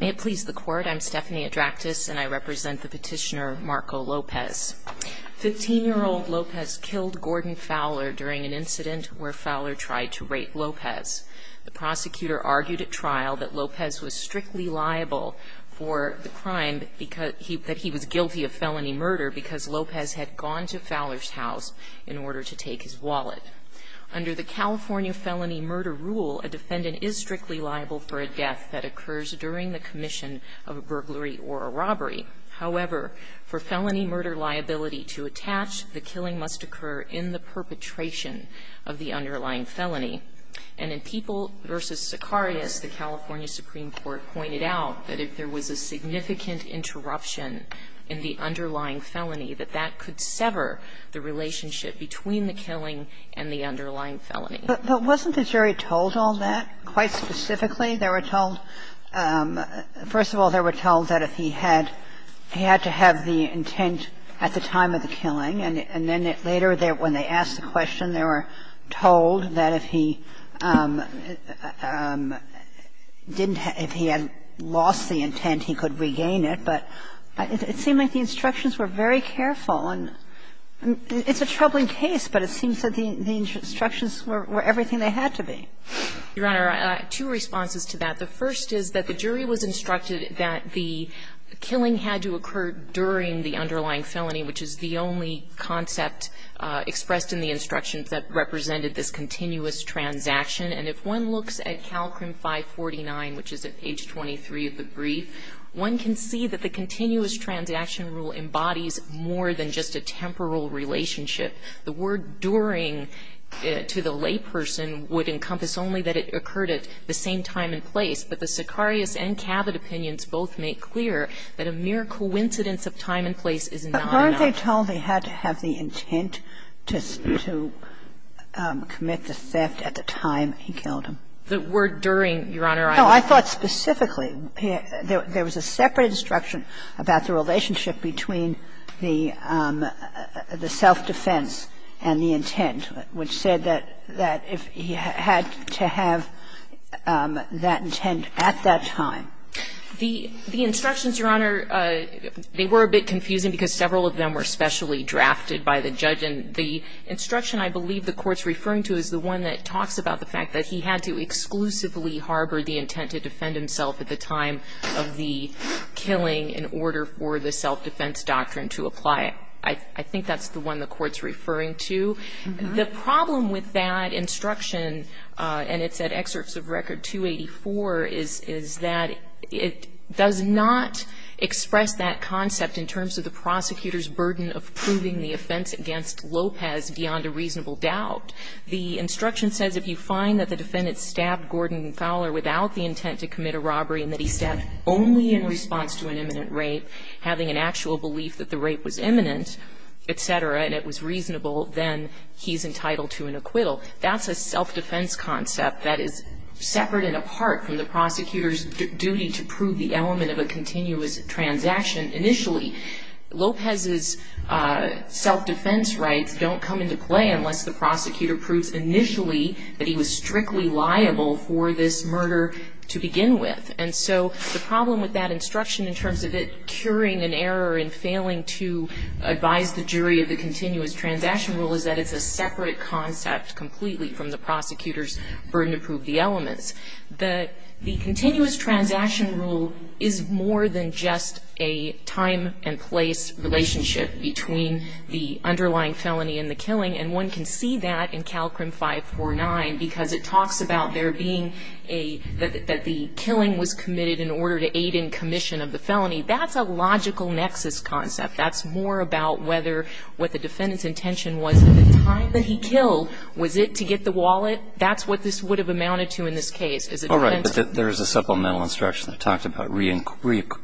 May it please the court, I'm Stephanie Adraktis and I represent the petitioner Marco Lopez. Fifteen-year-old Lopez killed Gordon Fowler during an incident where Fowler tried to rape Lopez. The prosecutor argued at trial that Lopez was strictly liable for the crime, that he was guilty of felony murder because Lopez had gone to Fowler's house in order to take his wallet. Under the California felony murder rule, a defendant is strictly liable for a death that occurs during the commission of a burglary or a robbery. However, for felony murder liability to attach, the killing must occur in the perpetration of the underlying felony. And in People v. Sicarius, the California Supreme Court pointed out that if there was a significant interruption in the underlying felony, that that could sever the relationship between the killing and the underlying felony. But wasn't the jury told all that, quite specifically? They were told – first of all, they were told that if he had – he had to have the intent at the time of the killing, and then later when they asked the question, they were told that if he didn't have – if he had lost the intent, he could regain it, but it seemed like the instructions were very careful, and it's a troubling case, but it seems that the instructions were everything they had to be. Your Honor, I have two responses to that. The first is that the jury was instructed that the killing had to occur during the underlying felony, which is the only concept expressed in the instructions that represented this continuous transaction. And if one looks at Calcrim 549, which is at page 23 of the brief, one can see that the continuous transaction rule embodies more than just a temporal relationship. The word during to the layperson would encompass only that it occurred at the same time and place, but the Sicarius and Cabot opinions both make clear that a mere coincidence of time and place is not enough. time of the killing. And the jury was told he had to have the intent to commit the theft at the time he killed him. The word during, Your Honor, I was – No. I thought specifically there was a separate instruction about the relationship between the self-defense and the intent, which said that if he had to have that intent at that time. The instructions, Your Honor, they were a bit confusing because several of them were specially drafted by the judge. And the instruction I believe the Court's referring to is the one that talks about the fact that he had to exclusively harbor the intent to defend himself at the time of the killing in order for the self-defense doctrine to apply. I think that's the one the Court's referring to. The problem with that instruction, and it's at Excerpts of Record 284, is that it does not express that concept in terms of the prosecutor's burden of proving the offense against Lopez beyond a reasonable doubt. The instruction says if you find that the defendant stabbed Gordon Fowler without the intent to commit a robbery and that he stabbed only in response to an imminent rape, having an actual belief that the rape was imminent, et cetera, and it was reasonable, then he's entitled to an acquittal. That's a self-defense concept that is separate and apart from the prosecutor's duty to prove the element of a continuous transaction initially. Lopez's self-defense rights don't come into play unless the prosecutor proves initially that he was strictly liable for this murder to begin with. And so the problem with that instruction in terms of it curing an error in failing to advise the jury of the continuous transaction rule is that it's a separate concept completely from the prosecutor's burden to prove the elements. The continuous transaction rule is more than just a time and place relationship between the underlying felony and the killing, and one can see that in CALCRIM 549 because it talks about there being a, that the killing was committed in order to aid in commission of the felony. That's a logical nexus concept. That's more about whether what the defendant's intention was at the time that he killed. Was it to get the wallet? That's what this would have amounted to in this case. Is it a defense? All right. But there is a supplemental instruction that talks about reacquiring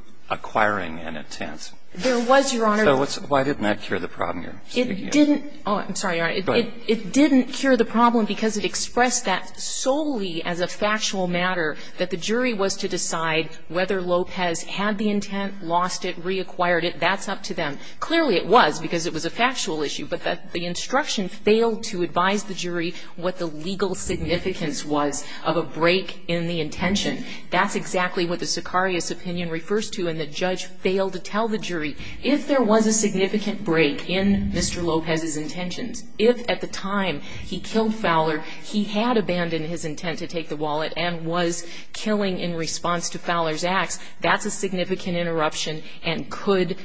an intent. There was, Your Honor. So why didn't that cure the problem you're speaking of? It didn't. Oh, I'm sorry, Your Honor. Go ahead. It didn't cure the problem because it expressed that solely as a factual matter that the jury was to decide whether Lopez had the intent, lost it, reacquired it. That's up to them. Clearly it was because it was a factual issue, but the instruction failed to advise the jury what the legal significance was of a break in the intention. That's exactly what the Sicarius opinion refers to, and the judge failed to tell the jury if there was a significant break in Mr. Lopez's intentions, if at the time he killed Fowler he had abandoned his intent to take the wallet and was killing in response to Fowler's acts, that's a significant interruption and could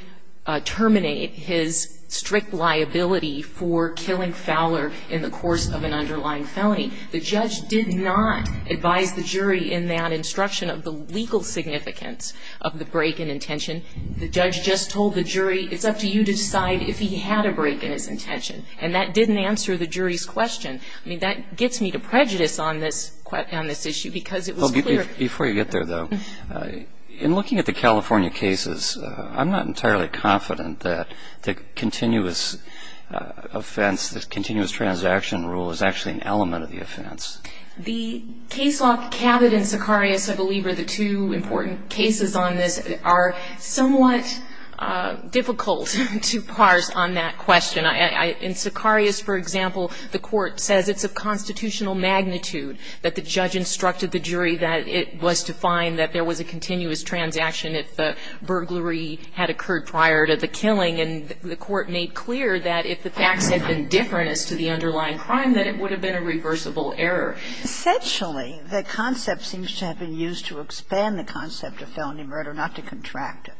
terminate his strict liability for killing Fowler in the course of an underlying felony. The judge did not advise the jury in that instruction of the legal significance of the break in intention. The judge just told the jury it's up to you to decide if he had a break in his intention, and that didn't answer the jury's question. That gets me to prejudice on this issue because it was clear. Before you get there, though, in looking at the California cases, I'm not entirely confident that the continuous offense, the continuous transaction rule is actually an element of the offense. The case law cabinet in Sicarius, I believe, are the two important cases on this, are somewhat difficult to parse on that question. In Sicarius, for example, the court says it's of constitutional magnitude that the judge instructed the jury that it was to find that there was a continuous transaction if the burglary had occurred prior to the killing, and the court made clear that if the facts had been different as to the underlying crime, that it would have been a reversible error. Essentially, the concept seems to have been used to expand the concept of felony murder, not to contract it.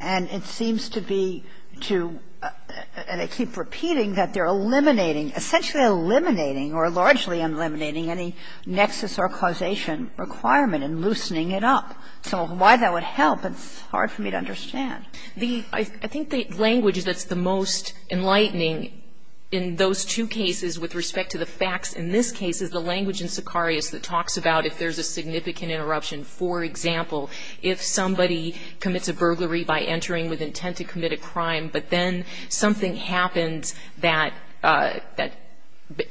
And it seems to be to, and I keep repeating, that they're eliminating, essentially eliminating or largely eliminating any nexus or causation requirement and loosening it up. So why that would help, it's hard for me to understand. I think the language that's the most enlightening in those two cases with respect to the facts in this case is the language in Sicarius that talks about if there's a significant interruption. For example, if somebody commits a burglary by entering with intent to commit a crime, but then something happens that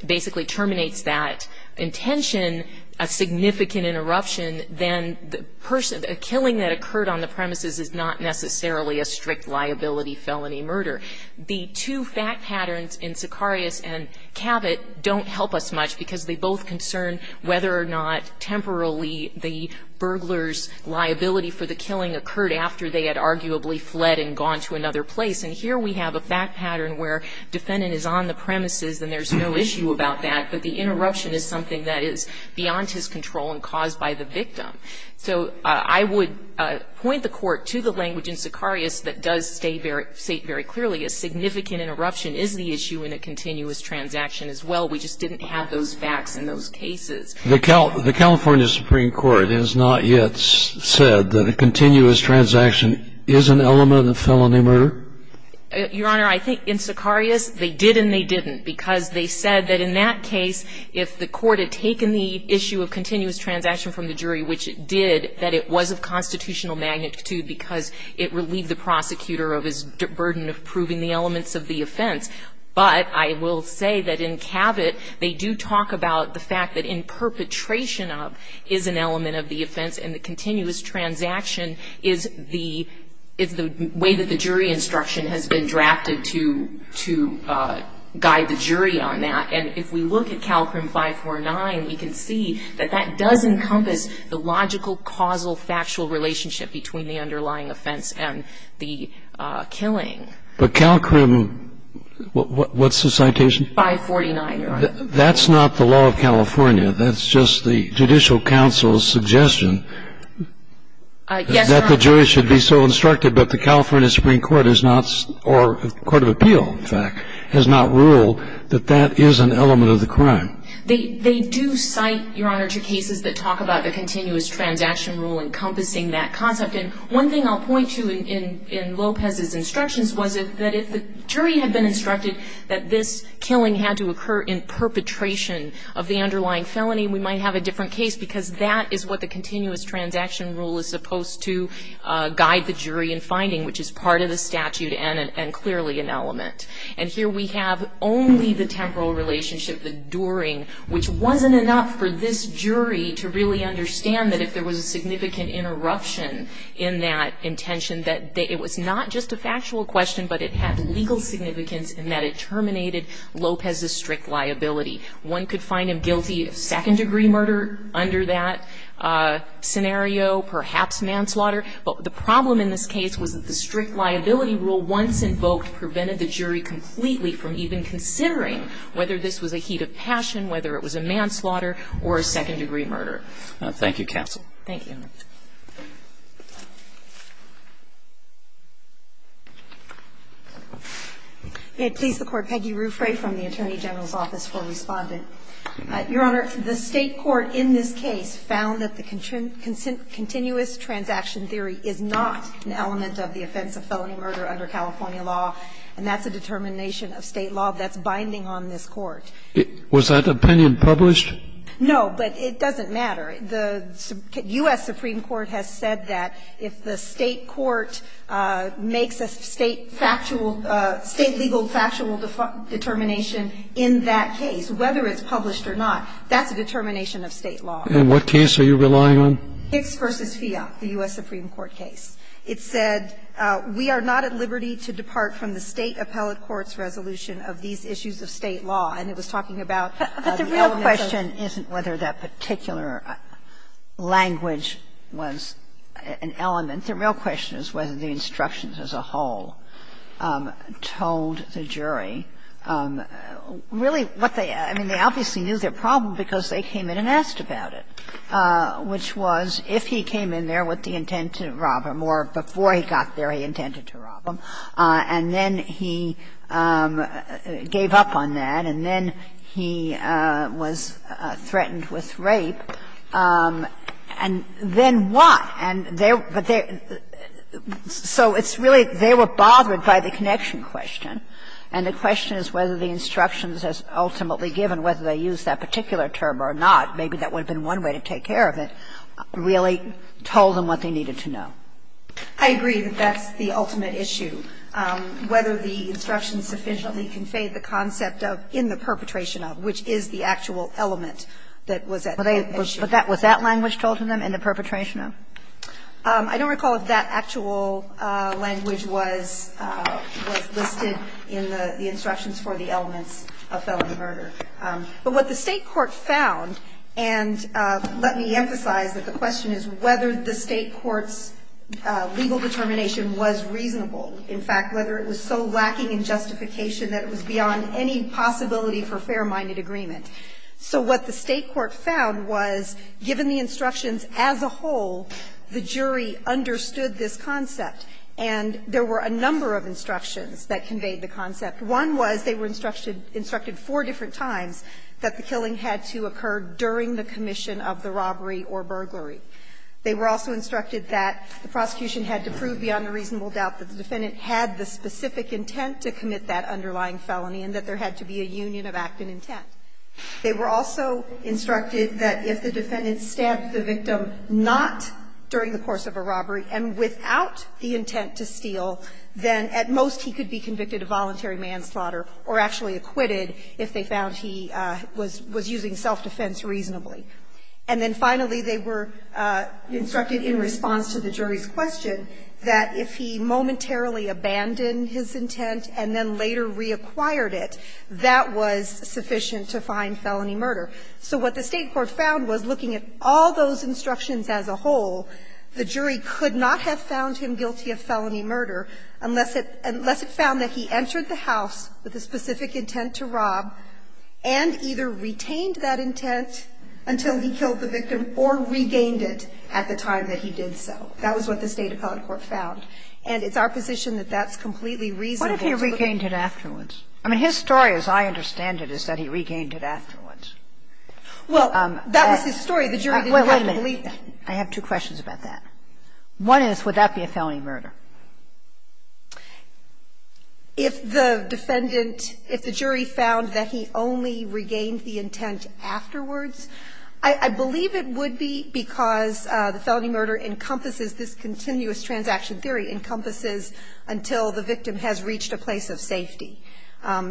basically terminates that intention, a significant interruption, then the person, a killing that occurred on the premises is not necessarily a strict liability felony murder. The two fact patterns in Sicarius and Cabot don't help us much, because they both concern whether or not temporarily the burglar's liability for the killing occurred after they had arguably fled and gone to another place. And here we have a fact pattern where defendant is on the premises and there's no issue about that, but the interruption is something that is beyond his control and caused by the victim. So I would point the Court to the language in Sicarius that does state very clearly a significant interruption is the issue in a continuous transaction as well. We just didn't have those facts in those cases. The California Supreme Court has not yet said that a continuous transaction is an element of felony murder? Your Honor, I think in Sicarius they did and they didn't, because they said that in that case, if the Court had taken the issue of continuous transaction from the jury, which it did, that it was of constitutional magnitude because it relieved the prosecutor of his burden of proving the elements of the offense. But I will say that in Cabot, they do talk about the fact that in perpetration of is an element of the offense and the continuous transaction is the way that the jury instruction has been drafted to guide the jury on that. And if we look at Calcrim 549, we can see that that does encompass the logical, causal, factual relationship between the underlying offense and the killing. But Calcrim, what's the citation? 549, Your Honor. That's not the law of California. That's just the Judicial Council's suggestion that the jury should be so instructed, but the California Supreme Court is not, or Court of Appeal, in fact, has not ruled that that is an element of the crime. They do cite, Your Honor, two cases that talk about the continuous transaction rule encompassing that concept. And one thing I'll point to in Lopez's instructions was that if the jury had been instructed that this killing had to occur in perpetration of the underlying felony, we might have a different case because that is what the continuous transaction rule is supposed to guide the jury in finding, which is part of the statute and clearly an element. And here we have only the temporal relationship, the during, which wasn't enough for this jury to really understand that if there was a significant interruption in that intention, that it was not just a factual question, but it had legal significance in that it terminated Lopez's strict liability. One could find him guilty of second degree murder under that scenario, perhaps manslaughter, but the problem in this case was that the strict liability rule once invoked prevented the jury completely from even considering whether this was a heat of passion, whether it was a manslaughter, or a second degree murder. Thank you, counsel. Thank you. May it please the Court. Peggy Ruffray from the Attorney General's Office for Respondent. Your Honor, the State court in this case found that the continuous transaction theory is not an element of the offense of felony murder under California law, and that's a determination of State law that's binding on this Court. Was that opinion published? No, but it doesn't matter. The U.S. Supreme Court has said that if the State court makes a State factual – State legal factual determination in that case, whether it's published or not, that's a determination of State law. And what case are you relying on? Hicks v. Fiat, the U.S. Supreme Court case. It said, we are not at liberty to depart from the State appellate court's resolution of these issues of State law, and it was talking about the element of the law. The language was an element. The real question is whether the instructions as a whole told the jury. Really, what they – I mean, they obviously knew their problem because they came in and asked about it, which was if he came in there with the intent to rob him or before he got there he intended to rob him, and then he gave up on that, and then why? And they're – but they're – so it's really they were bothered by the connection question, and the question is whether the instructions as ultimately given, whether they use that particular term or not, maybe that would have been one way to take care of it, really told them what they needed to know. I agree that that's the ultimate issue, whether the instructions sufficiently conveyed the concept of in the perpetration of, which is the actual element that was at issue. But that – was that language told to them in the perpetration of? I don't recall if that actual language was listed in the instructions for the elements of felony murder. But what the State court found, and let me emphasize that the question is whether the State court's legal determination was reasonable. In fact, whether it was so lacking in justification that it was beyond any possibility for fair-minded agreement. So what the State court found was, given the instructions as a whole, the jury understood this concept, and there were a number of instructions that conveyed the concept. One was they were instructed four different times that the killing had to occur during the commission of the robbery or burglary. They were also instructed that the prosecution had to prove beyond a reasonable doubt that the defendant had the specific intent to commit that underlying felony, and that there had to be a union of act and intent. They were also instructed that if the defendant stabbed the victim not during the course of a robbery and without the intent to steal, then at most he could be convicted of voluntary manslaughter or actually acquitted if they found he was using self-defense reasonably. And then finally, they were instructed in response to the jury's question that if he momentarily abandoned his intent and then later reacquired it, that was sufficient evidence to find felony murder. So what the State court found was, looking at all those instructions as a whole, the jury could not have found him guilty of felony murder unless it found that he entered the house with a specific intent to rob and either retained that intent until he killed the victim or regained it at the time that he did so. That was what the State appellate court found. And it's our position that that's completely reasonable to look at. Kagan. I mean, his story, as I understand it, is that he regained it afterwards. Well, that was his story. The jury didn't have to believe that. Wait a minute. I have two questions about that. One is, would that be a felony murder? If the defendant – if the jury found that he only regained the intent afterwards, I believe it would be because the felony murder encompasses this continuous transaction theory, encompasses until the victim has reached a place of safety.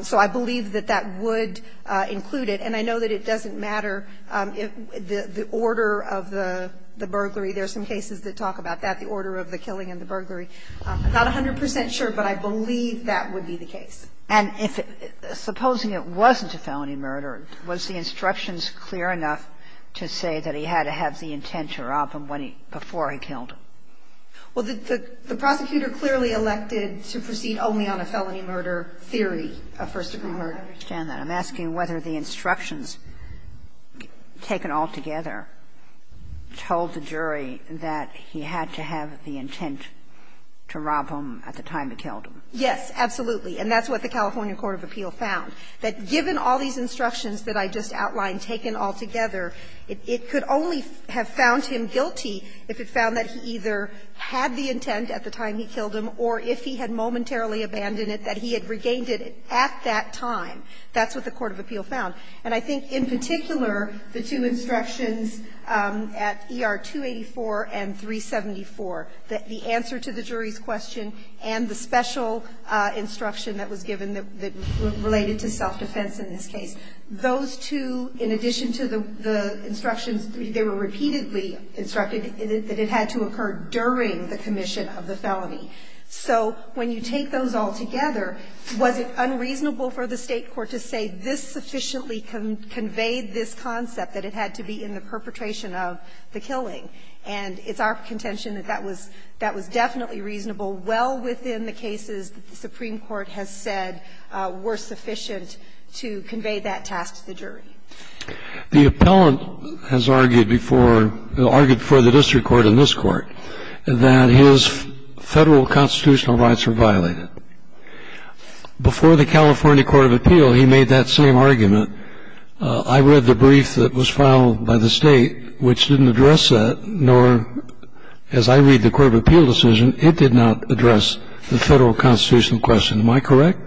So I believe that that would include it. And I know that it doesn't matter if the order of the burglary – there are some cases that talk about that, the order of the killing and the burglary. I'm not 100 percent sure, but I believe that would be the case. And if – supposing it wasn't a felony murder, was the instructions clear enough to say that he had to have the intent to rob him when he – before he killed him? Well, the prosecutor clearly elected to proceed only on a felony murder theory, a first-degree murder. I understand that. I'm asking whether the instructions taken altogether told the jury that he had to have the intent to rob him at the time he killed him. Yes, absolutely. And that's what the California court of appeal found, that given all these instructions that I just outlined taken altogether, it could only have found him guilty if it found that he either had the intent at the time he killed him, or if he had momentarily abandoned it, that he had regained it at that time. That's what the court of appeal found. And I think in particular, the two instructions at ER 284 and 374, the answer to the jury's question and the special instruction that was given that related to self-defense in this case, those two, in addition to the instructions, they were repeatedly instructed that it had to occur during the commission of the felony. So when you take those all together, was it unreasonable for the State court to say this sufficiently conveyed this concept, that it had to be in the perpetration of the killing? And it's our contention that that was – that was definitely reasonable well within the cases that the Supreme Court has said were sufficient to convey that task to the jury. The appellant has argued before – argued before the district court and this court that his Federal constitutional rights were violated. Before the California court of appeal, he made that same argument. I read the brief that was filed by the State, which didn't address that, nor, as I read the court of appeal decision, it did not address the Federal constitutional question. Am I correct?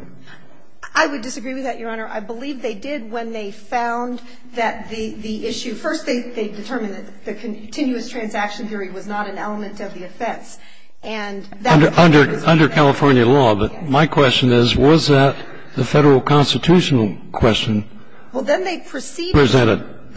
I would disagree with that, Your Honor. I believe they did when they found that the issue – first, they determined that the continuous transaction theory was not an element of the offense, and that was presented as a requirement. Under California law, but my question is, was that the Federal constitutional question presented? Well,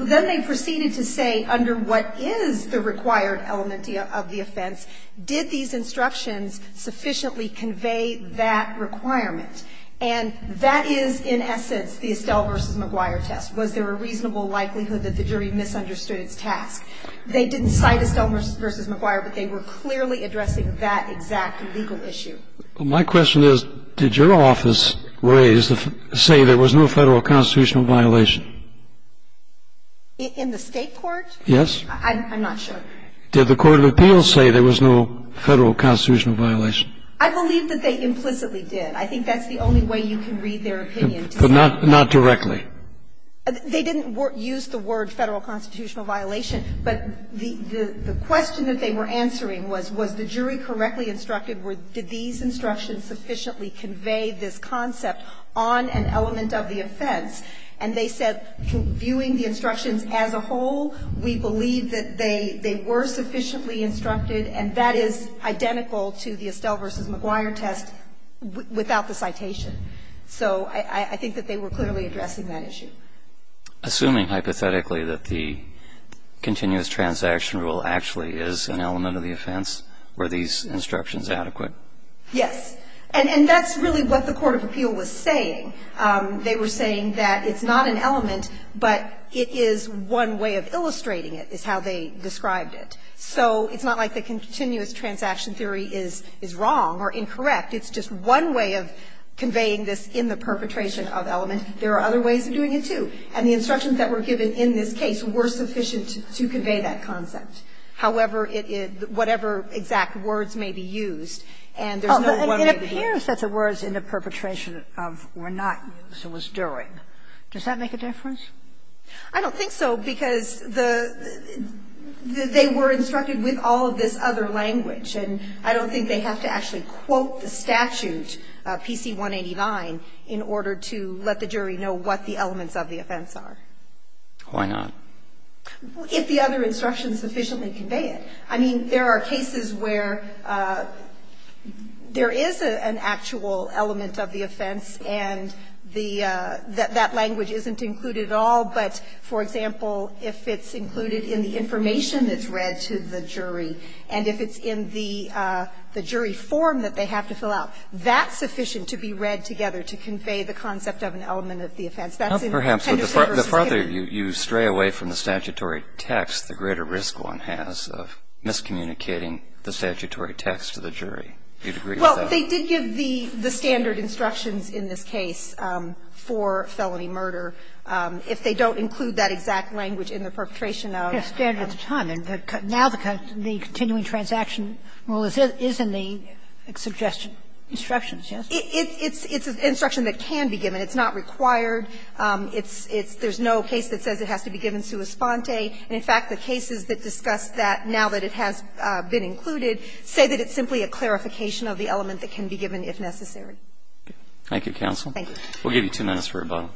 then they proceeded to say, under what is the required element of the offense, did these instructions sufficiently convey that requirement? And that is, in essence, the Estelle v. McGuire test. Was there a reasonable likelihood that the jury misunderstood its task? They didn't cite Estelle v. McGuire, but they were clearly addressing that exact legal issue. Well, my question is, did your office say there was no Federal constitutional violation? In the State court? Yes. I'm not sure. Did the court of appeal say there was no Federal constitutional violation? I believe that they implicitly did. I think that's the only way you can read their opinion. But not directly? They didn't use the word Federal constitutional violation, but the question that they were answering was, was the jury correctly instructed, did these instructions sufficiently convey this concept on an element of the offense? And they said, viewing the instructions as a whole, we believe that they were sufficiently instructed, and that is identical to the Estelle v. McGuire test without the citation. So I think that they were clearly addressing that issue. Assuming, hypothetically, that the continuous transaction rule actually is an element of the offense, were these instructions adequate? Yes. And that's really what the court of appeal was saying. They were saying that it's not an element, but it is one way of illustrating it, is how they described it. So it's not like the continuous transaction theory is wrong or incorrect. It's just one way of conveying this in the perpetration of element. There are other ways of doing it, too. And the instructions that were given in this case were sufficient to convey that concept. However, it is whatever exact words may be used, and there's no one way to do it. And it appears that the words in the perpetration of were not used, it was during. Does that make a difference? I don't think so, because the they were instructed with all of this other language. And I don't think they have to actually quote the statute, PC 189, in order to let the jury know what the elements of the offense are. Why not? If the other instructions sufficiently convey it. I mean, there are cases where there is an actual element of the offense, and the that language isn't included at all. But, for example, if it's included in the information that's read to the jury, and if it's in the jury form that they have to fill out, that's sufficient to be read together to convey the concept of an element of the offense. That's in Henderson v. Skinner. But the farther you stray away from the statutory text, the greater risk one has of miscommunicating the statutory text to the jury. Do you agree with that? Well, they did give the standard instructions in this case for felony murder. If they don't include that exact language in the perpetration of the statute. Yes, standard at the time. And now the continuing transaction rule is in the suggestion instructions, yes? It's an instruction that can be given. It's not required. It's no case that says it has to be given sua sponte. And, in fact, the cases that discuss that now that it has been included say that it's simply a clarification of the element that can be given if necessary. Thank you, counsel. Thank you. We'll give you two minutes for rebuttal.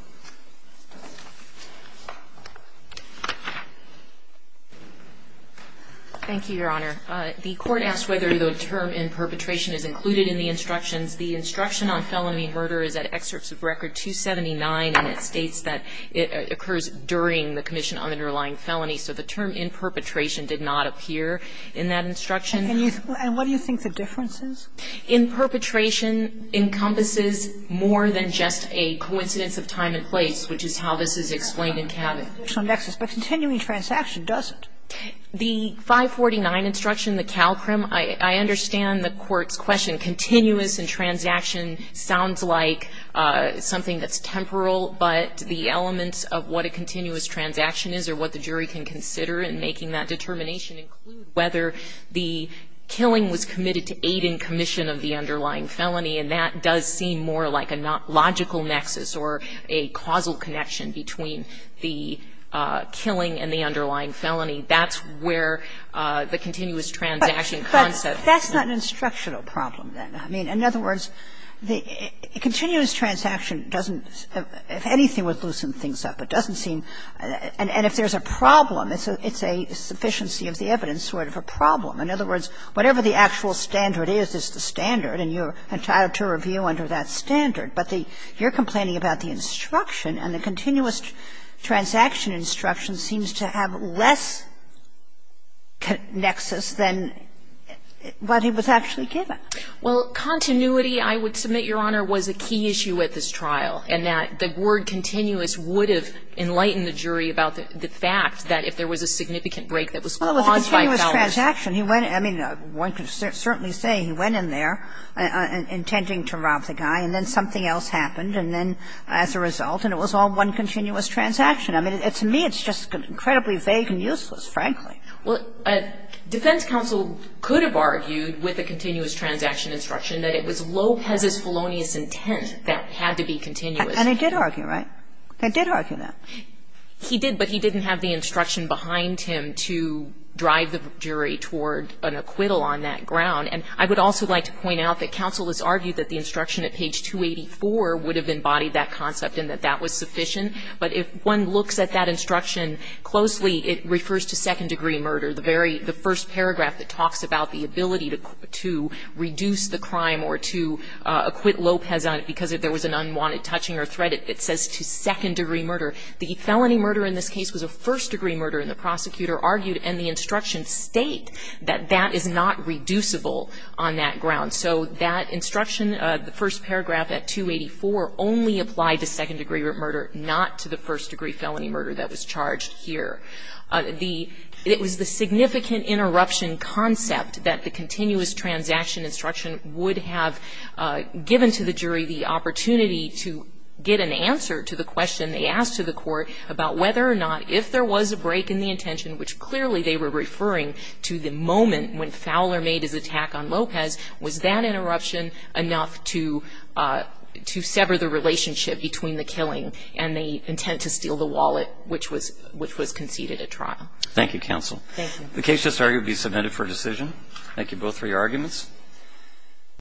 Thank you, Your Honor. The Court asked whether the term in perpetration is included in the instructions. The instruction on felony murder is at excerpts of Record 279, and it states that it occurs during the commission on the underlying felony. So the term in perpetration did not appear in that instruction. And what do you think the difference is? In perpetration encompasses more than just a coincidence of time and place, which is how this is explained in Cabot. But continuing transaction doesn't. The 549 instruction, the CALCRIM, I understand the Court's question. Continuous in transaction sounds like something that's temporal, but the elements of what a continuous transaction is or what the jury can consider in making that decision. So if the killing was committed to aid in commission of the underlying felony and that does seem more like a logical nexus or a causal connection between the killing and the underlying felony, that's where the continuous transaction concept. But that's not an instructional problem, then. I mean, in other words, the continuous transaction doesn't, if anything, would loosen things up. It doesn't seem, and if there's a problem, it's a sufficiency of the evidence sort of a problem. In other words, whatever the actual standard is, is the standard, and you're entitled to review under that standard. But the you're complaining about the instruction, and the continuous transaction instruction seems to have less nexus than what it was actually given. Well, continuity, I would submit, Your Honor, was a key issue at this trial, and that the word continuous would have enlightened the jury about the fact that if there was a significant break that was caused by felonies. Well, with the continuous transaction, he went to, I mean, one could certainly say he went in there intending to rob the guy, and then something else happened, and then as a result, and it was all one continuous transaction. I mean, to me, it's just incredibly vague and useless, frankly. Well, defense counsel could have argued with the continuous transaction instruction that it was Lopez's felonious intent that it had to be continuous. And they did argue, right? They did argue that. He did, but he didn't have the instruction behind him to drive the jury toward an acquittal on that ground. And I would also like to point out that counsel has argued that the instruction at page 284 would have embodied that concept and that that was sufficient. But if one looks at that instruction closely, it refers to second-degree murder, the very, the first paragraph that talks about the ability to reduce the crime or to acquit Lopez on it because if there was an unwanted touching or threat, it says to second-degree murder. The felony murder in this case was a first-degree murder, and the prosecutor argued, and the instructions state that that is not reducible on that ground. So that instruction, the first paragraph at 284, only applied to second-degree murder, not to the first-degree felony murder that was charged here. It was the significant interruption concept that the continuous transaction instruction would have given to the jury the opportunity to get an answer to the question they asked to the court about whether or not, if there was a break in the intention, which clearly they were referring to the moment when Fowler made his attack on Lopez, was that interruption enough to sever the relationship between the killing and the intent to steal the wallet, which was conceded at trial. Thank you, counsel. Thank you. The case just argued to be submitted for decision. Thank you both for your arguments.